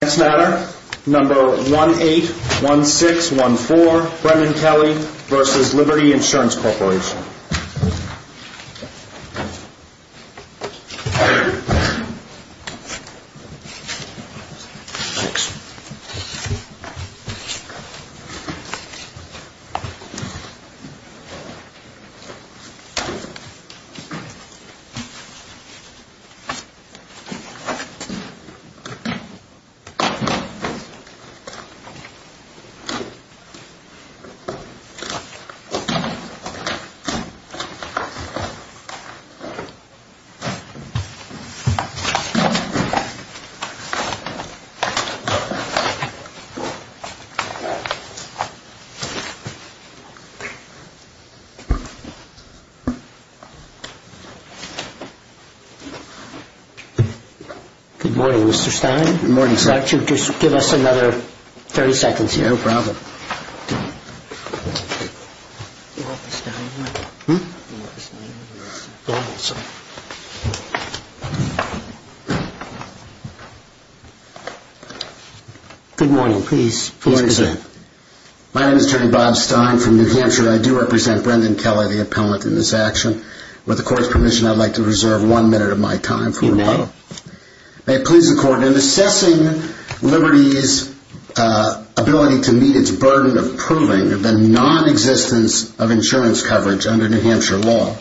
Next matter, number 181614, Brendan Kelly v. Liberty Insurance Corporation. Good morning, Mr. Stein. I do represent Brendan Kelly, the appellant in this action. With the court's permission, I'd like to reserve one minute of my time for rebuttal. May it please the court, in assessing Liberty's ability to meet its burden of proving the non-existence of insurance coverage under New Hampshire law,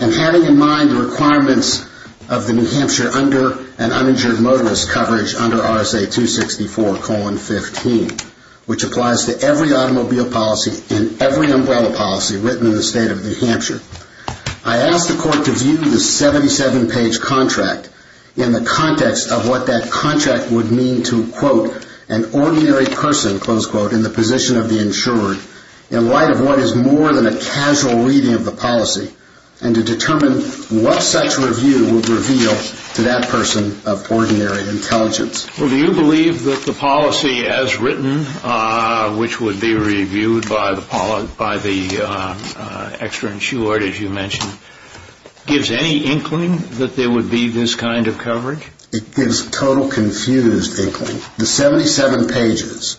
and having in mind the requirements of the New Hampshire under an uninsured motorist coverage under RSA 264-15, which applies to every automobile policy and every umbrella policy written in the state of New Hampshire, I ask the court to view the 77-page contract in the context of what that contract would mean to, quote, an ordinary person, close quote, in the position of the insured, in light of what is more than a casual reading of the policy, and to determine what such review would reveal to that person of ordinary intelligence. Well, do you believe that the policy as written, which would be reviewed by the extra-insured, as you mentioned, gives any inkling that there would be this kind of coverage? It gives total confused inkling. The 77 pages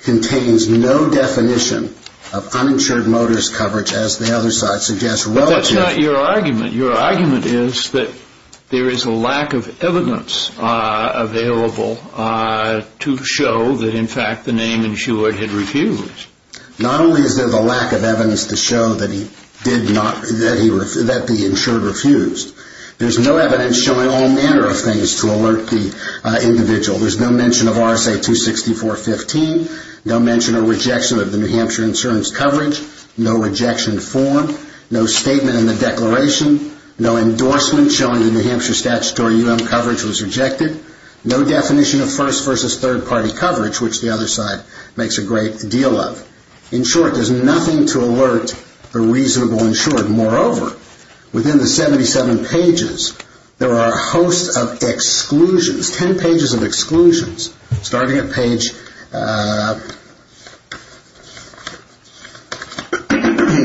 contains no definition of uninsured motorist coverage, as the other side suggests, relatively. That's not your argument. Your argument is that there is a lack of evidence available to show that, in fact, the name insured had refused. Not only is there the lack of evidence to show that the insured refused, there's no evidence showing all manner of things to alert the individual. There's no mention of RSA 264-15, no mention or rejection of the New Hampshire insurance coverage, no rejection form, no statement in the declaration, no endorsement showing the New Hampshire statutory UM coverage was rejected, no definition of first versus third party coverage, which the other side makes a great deal of. In short, there's nothing to alert the reasonable insured. Moreover, within the 77 pages, there are a host of exclusions, 10 pages of exclusions, starting at page,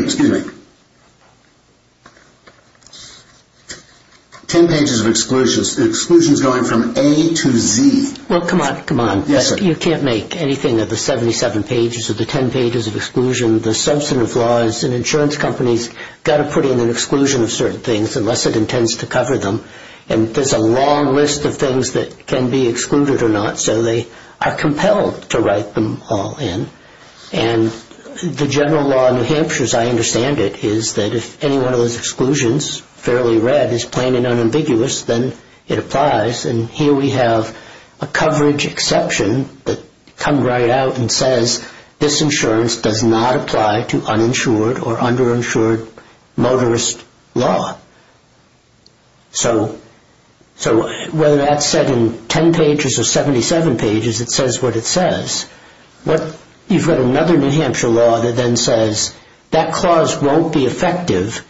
excuse me, 10 pages of exclusions, the exclusions going from A to Z. Well, come on, come on. Yes, sir. You can't make anything of the 77 pages or the 10 pages of exclusion. The substantive law is an insurance company's got to put in an exclusion of certain things unless it intends to cover them. And there's a long list of things that can be excluded or not, so they are compelled to write them all in. And the general law in New Hampshire, as I understand it, is that if any one of those exclusions, fairly red, is plain and unambiguous, then it applies. And here we have a coverage exception that comes right out and says, this insurance does not apply to uninsured or underinsured motorist law. So whether that's said in 10 pages or 77 pages, it says what it says. You've got another New Hampshire law that then says that clause won't be effective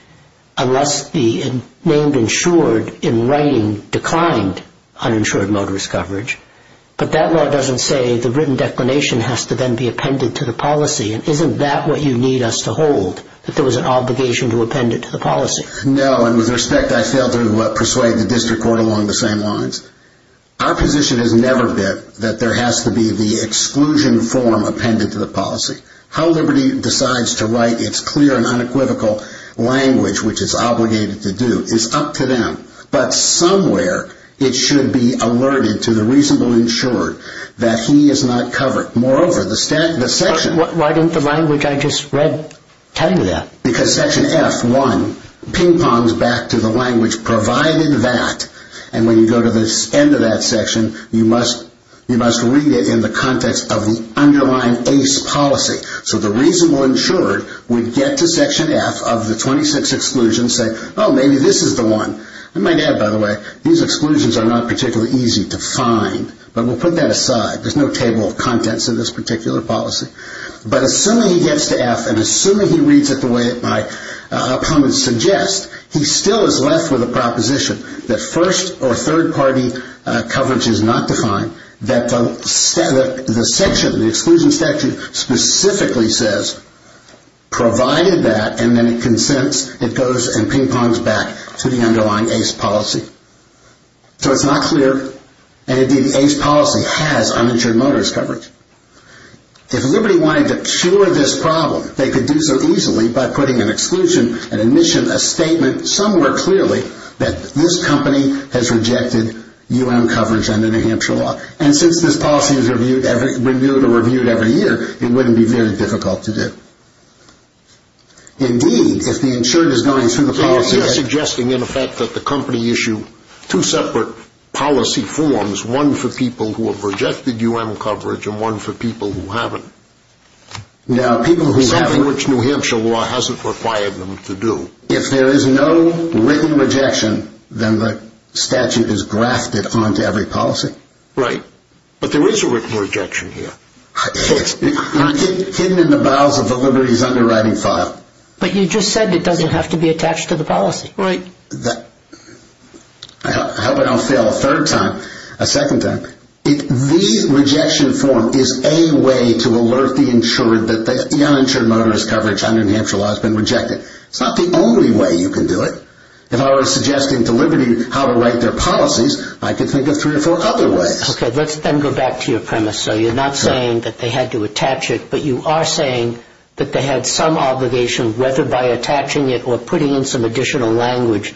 unless the name insured in writing declined uninsured motorist coverage. But that law doesn't say the written declination has to then be appended to the policy. And isn't that what you need us to hold, that there was an obligation to append it to the policy? No, and with respect, I failed to persuade the district court along the same lines. Our position has never been that there has to be the exclusion form appended to the policy. How Liberty decides to write its clear and unequivocal language, which it's obligated to do, is up to them. But somewhere it should be alerted to the reasonable insured that he is not covered. Moreover, the section... Why didn't the language I just read tell you that? Because section F1 ping-pongs back to the language provided that. And when you go to the end of that section, you must read it in the context of the underlying ACE policy. So the reasonable insured would get to section F of the 26 exclusions and say, oh, maybe this is the one. I might add, by the way, these exclusions are not particularly easy to find. But we'll put that aside. There's no table of contents in this particular policy. But assuming he gets to F and assuming he reads it the way my opponents suggest, he still is left with a proposition that first- or third-party coverage is not defined, that the exclusion statute specifically says, provided that, and then it consents, it goes and ping-pongs back to the underlying ACE policy. So it's not clear. And, indeed, the ACE policy has uninsured motorist coverage. If Liberty wanted to cure this problem, they could do so easily by putting an exclusion, an admission, a statement somewhere clearly that this company has rejected U.M. coverage under New Hampshire law. And since this policy is reviewed every year, it wouldn't be very difficult to do. Indeed, if the insured is going through the policy... So you're suggesting, in effect, that the company issue two separate policy forms, one for people who have rejected U.M. coverage and one for people who haven't. Now, people who haven't... Something which New Hampshire law hasn't required them to do. If there is no written rejection, then the statute is grafted onto every policy. Right. But there is a written rejection here. It's hidden in the bowels of the Liberty's underwriting file. But you just said it doesn't have to be attached to the policy. Right. I hope I don't fail a third time, a second time. The rejection form is a way to alert the insured that the uninsured motorist coverage under New Hampshire law has been rejected. It's not the only way you can do it. If I were suggesting to Liberty how to write their policies, I could think of three or four other ways. Okay. Let's then go back to your premise. So you're not saying that they had to attach it, but you are saying that they had some obligation, whether by attaching it or putting in some additional language,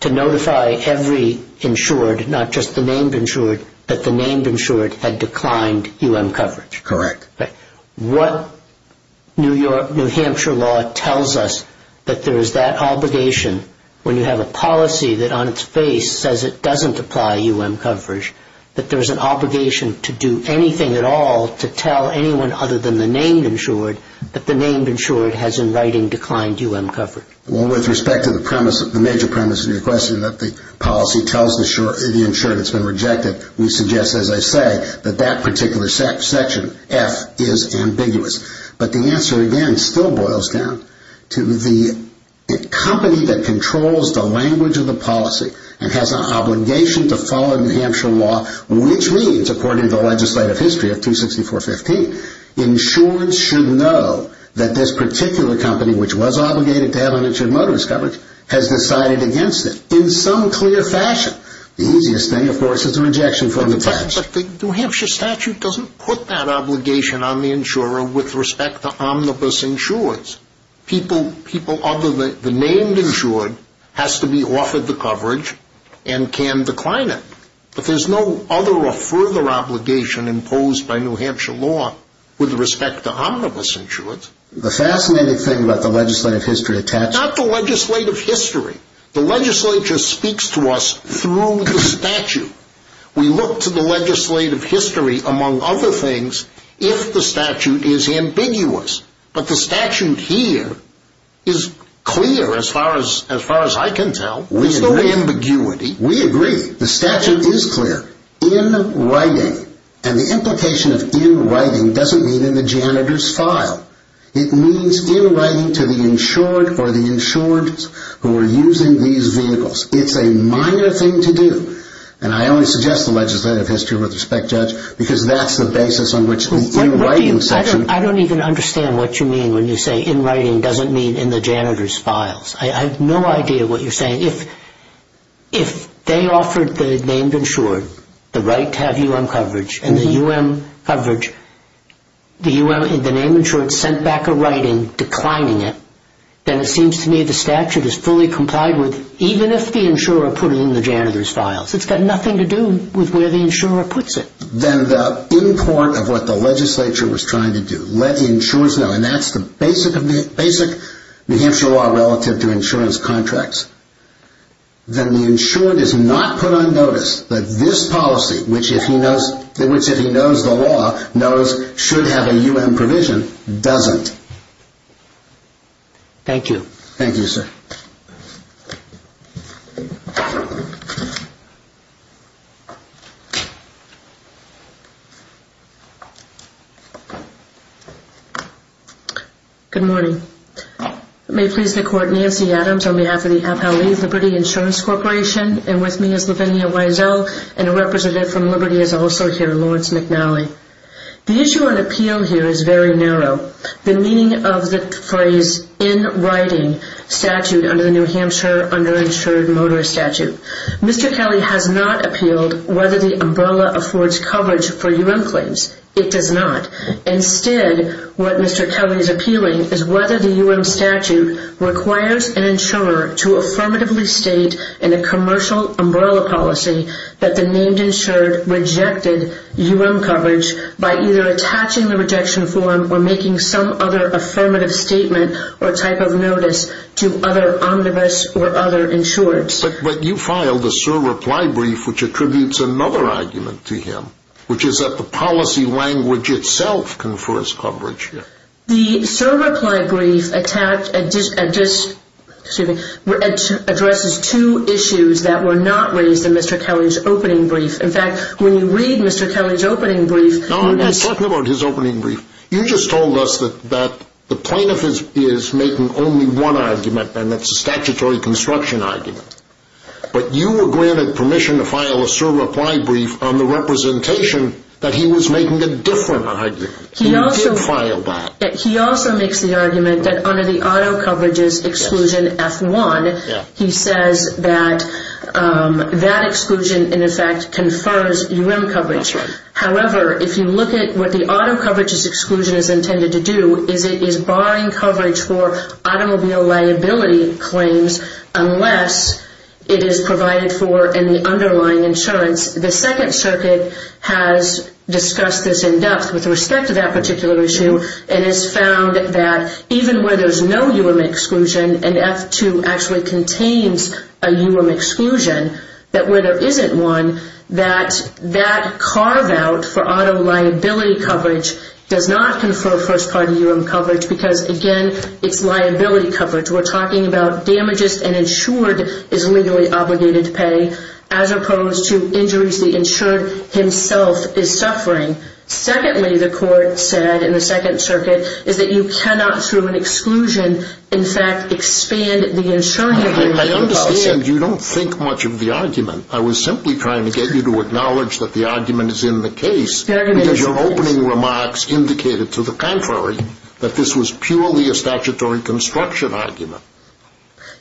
to notify every insured, not just the named insured, that the named insured had declined U.M. coverage. Correct. What New Hampshire law tells us that there is that obligation, when you have a policy that on its face says it doesn't apply U.M. coverage, that there is an obligation to do anything at all to tell anyone other than the named insured that the named insured has, in writing, declined U.M. coverage? Well, with respect to the premise, the major premise of your question, that the policy tells the insured it's been rejected, we suggest, as I say, that that particular section, F, is ambiguous. But the answer, again, still boils down to the company that controls the language of the policy and has an obligation to follow New Hampshire law, which means, according to the legislative history of 264.15, insurance should know that this particular company, which was obligated to have an insured motive coverage, has decided against it, in some clear fashion. The easiest thing, of course, is a rejection from the tax. But the New Hampshire statute doesn't put that obligation on the insurer with respect to omnibus insureds. People other than the named insured has to be offered the coverage and can decline it. But there's no other or further obligation imposed by New Hampshire law with respect to omnibus insureds. The fascinating thing about the legislative history attached to... Not the legislative history. The legislature speaks to us through the statute. We look to the legislative history, among other things, if the statute is ambiguous. But the statute here is clear, as far as I can tell. There's no ambiguity. We agree. The statute is clear. In writing. And the implication of in writing doesn't mean in the janitor's file. It means in writing to the insured or the insureds who are using these vehicles. It's a minor thing to do. And I only suggest the legislative history with respect, Judge, because that's the basis on which the in writing section... I don't even understand what you mean when you say in writing doesn't mean in the janitor's files. I have no idea what you're saying. If they offered the named insured the right to have U.M. coverage and the U.M. coverage, the named insured sent back a writing declining it, then it seems to me the statute is fully complied with even if the insurer put it in the janitor's files. It's got nothing to do with where the insurer puts it. Then the import of what the legislature was trying to do, let the insurers know, and that's the basic New Hampshire law relative to insurance contracts. Then the insured is not put on notice that this policy, which if he knows the law, knows should have a U.M. provision, doesn't. Thank you, sir. Good morning. May it please the court, Nancy Adams on behalf of the Appalachian Liberty Insurance Corporation and with me is Lavinia Wiesel and a representative from Liberty is also here, Lawrence McNally. The issue on appeal here is very narrow. The meaning of the phrase in writing statute under the New Hampshire underinsured motor statute. Mr. Kelly has not appealed whether the umbrella affords coverage for U.M. claims. It does not. Instead, what Mr. Kelly is appealing is whether the U.M. statute requires an insurer to affirmatively state in a commercial umbrella policy that the named insured rejected U.M. coverage by either attaching the rejection form or making some other affirmative statement or type of notice to other omnibus or other insurers. But you filed a surreply brief which attributes another argument to him, which is that the policy language itself confers coverage. The surreply brief addresses two issues that were not raised in Mr. Kelly's opening brief. In fact, when you read Mr. Kelly's opening brief... No, I'm talking about his opening brief. You just told us that the plaintiff is making only one argument, and that's a statutory construction argument. But you were granted permission to file a surreply brief on the representation that he was making a different argument. He did file that. He also makes the argument that under the auto coverages exclusion F1, he says that that exclusion, in effect, confers U.M. coverage. However, if you look at what the auto coverages exclusion is intended to do, is it is barring coverage for automobile liability claims unless it is provided for in the underlying insurance. The Second Circuit has discussed this in depth with respect to that particular issue and has found that even where there's no U.M. exclusion and F2 actually contains a U.M. exclusion, that where there isn't one, that that carve-out for auto liability coverage does not confer first-party U.M. coverage because, again, it's liability coverage. We're talking about damages an insured is legally obligated to pay as opposed to injuries the insured himself is suffering. Secondly, the court said in the Second Circuit, is that you cannot, through an exclusion, in fact, expand the insuring... I understand you don't think much of the argument. I was simply trying to get you to acknowledge that the argument is in the case... The argument is in the case. ...because your opening remarks indicated to the contrary that this was purely a statutory construction argument.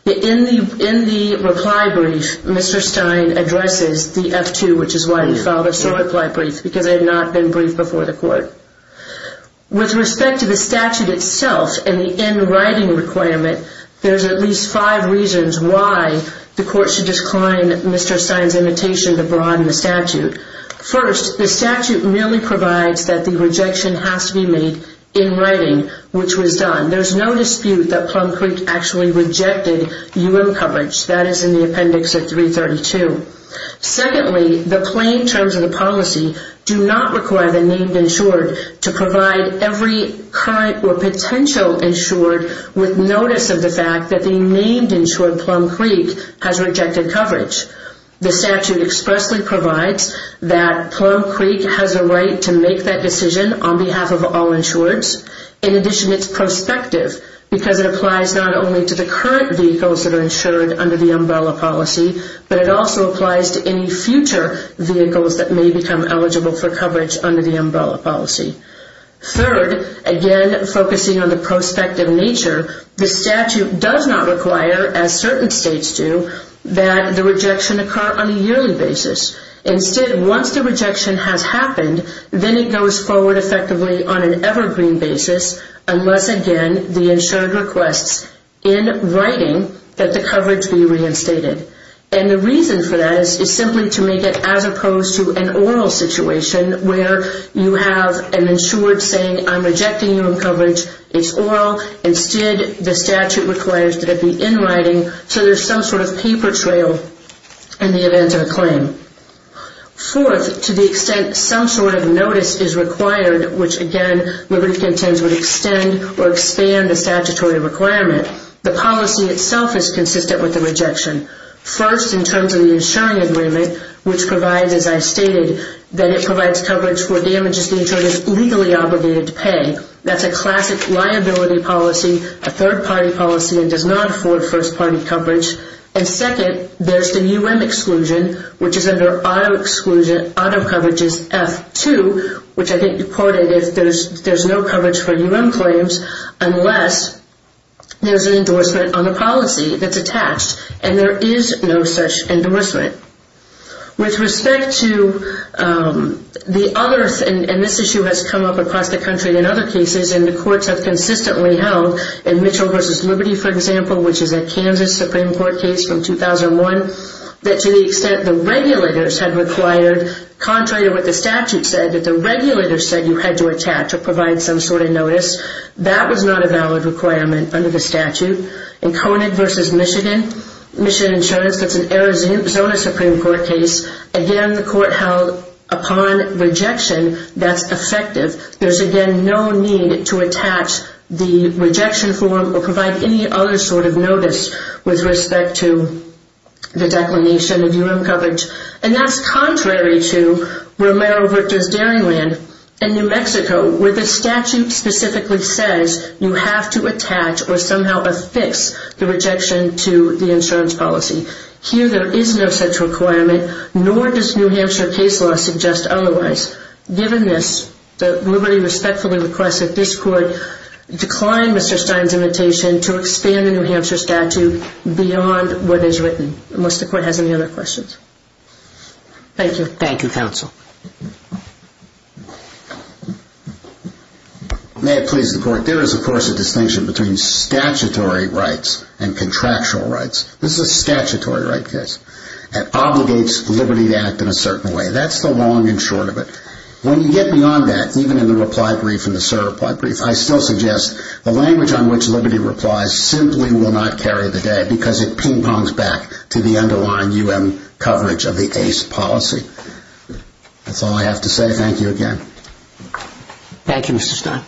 In the reply brief, Mr. Stein addresses the F2, which is why he filed a short reply brief, because it had not been briefed before the court. With respect to the statute itself and the in-writing requirement, there's at least five reasons why the court should decline Mr. Stein's invitation to broaden the statute. First, the statute merely provides that the rejection has to be made in writing, which was done. There's no dispute that Plum Creek actually rejected U.M. coverage. That is in the Appendix of 332. Secondly, the plain terms of the policy do not require the named insured to provide every current or potential insured with notice of the fact that the named insured, Plum Creek, has rejected coverage. The statute expressly provides that Plum Creek has a right to make that decision on behalf of all insureds. In addition, it's prospective, because it applies not only to the current vehicles that are insured under the umbrella policy, but it also applies to any future vehicles that may become eligible for coverage under the umbrella policy. Third, again focusing on the prospective nature, the statute does not require, as certain states do, that the rejection occur on a yearly basis. Instead, once the rejection has happened, then it goes forward effectively on an evergreen basis, unless, again, the insured requests in writing that the coverage be reinstated. And the reason for that is simply to make it as opposed to an oral situation where you have an insured saying, I'm rejecting U.M. coverage, it's oral. Instead, the statute requires that it be in writing, so there's some sort of paper trail in the event of a claim. Fourth, to the extent some sort of notice is required, which again, Liberty Contends would extend or expand the statutory requirement, the policy itself is consistent with the rejection. First, in terms of the insuring agreement, which provides, as I stated, that it provides coverage for damages the insured is legally obligated to pay. That's a classic liability policy, a third-party policy, and does not afford first-party coverage. And second, there's the U.M. exclusion, which is under auto coverage's F2, which I think you quoted, if there's no coverage for U.M. claims, unless there's an endorsement on the policy that's attached, and there is no such endorsement. With respect to the others, and this issue has come up across the country in other cases, and the courts have consistently held, in Mitchell v. Liberty, for example, which is a Kansas Supreme Court case from 2001, that to the extent the regulators had required, contrary to what the statute said, that the regulators said you had to attach or provide some sort of notice, that was not a valid requirement under the statute. In Conant v. Michigan Insurance, that's an Arizona Supreme Court case. Again, the court held, upon rejection, that's effective. There's, again, no need to attach the rejection form or provide any other sort of notice with respect to the declination of U.M. coverage. And that's contrary to Romero v. Daringland in New Mexico, where the statute specifically says you have to attach or somehow affix the rejection to the insurance policy. Here, there is no such requirement, nor does New Hampshire case law suggest otherwise. Given this, the liberty respectfully requests that this court decline Mr. Stein's invitation to expand the New Hampshire statute beyond what is written, unless the court has any other questions. Thank you. Thank you, counsel. May it please the court, there is, of course, a distinction between statutory rights and contractual rights. This is a statutory right case. It obligates liberty to act in a certain way. That's the long and short of it. When you get beyond that, even in the reply brief and the SIR reply brief, I still suggest the language on which liberty replies simply will not carry the day because it ping-pongs back to the underlying U.M. coverage of the ACE policy. That's all I have to say. Thank you again. Thank you, Mr. Stein.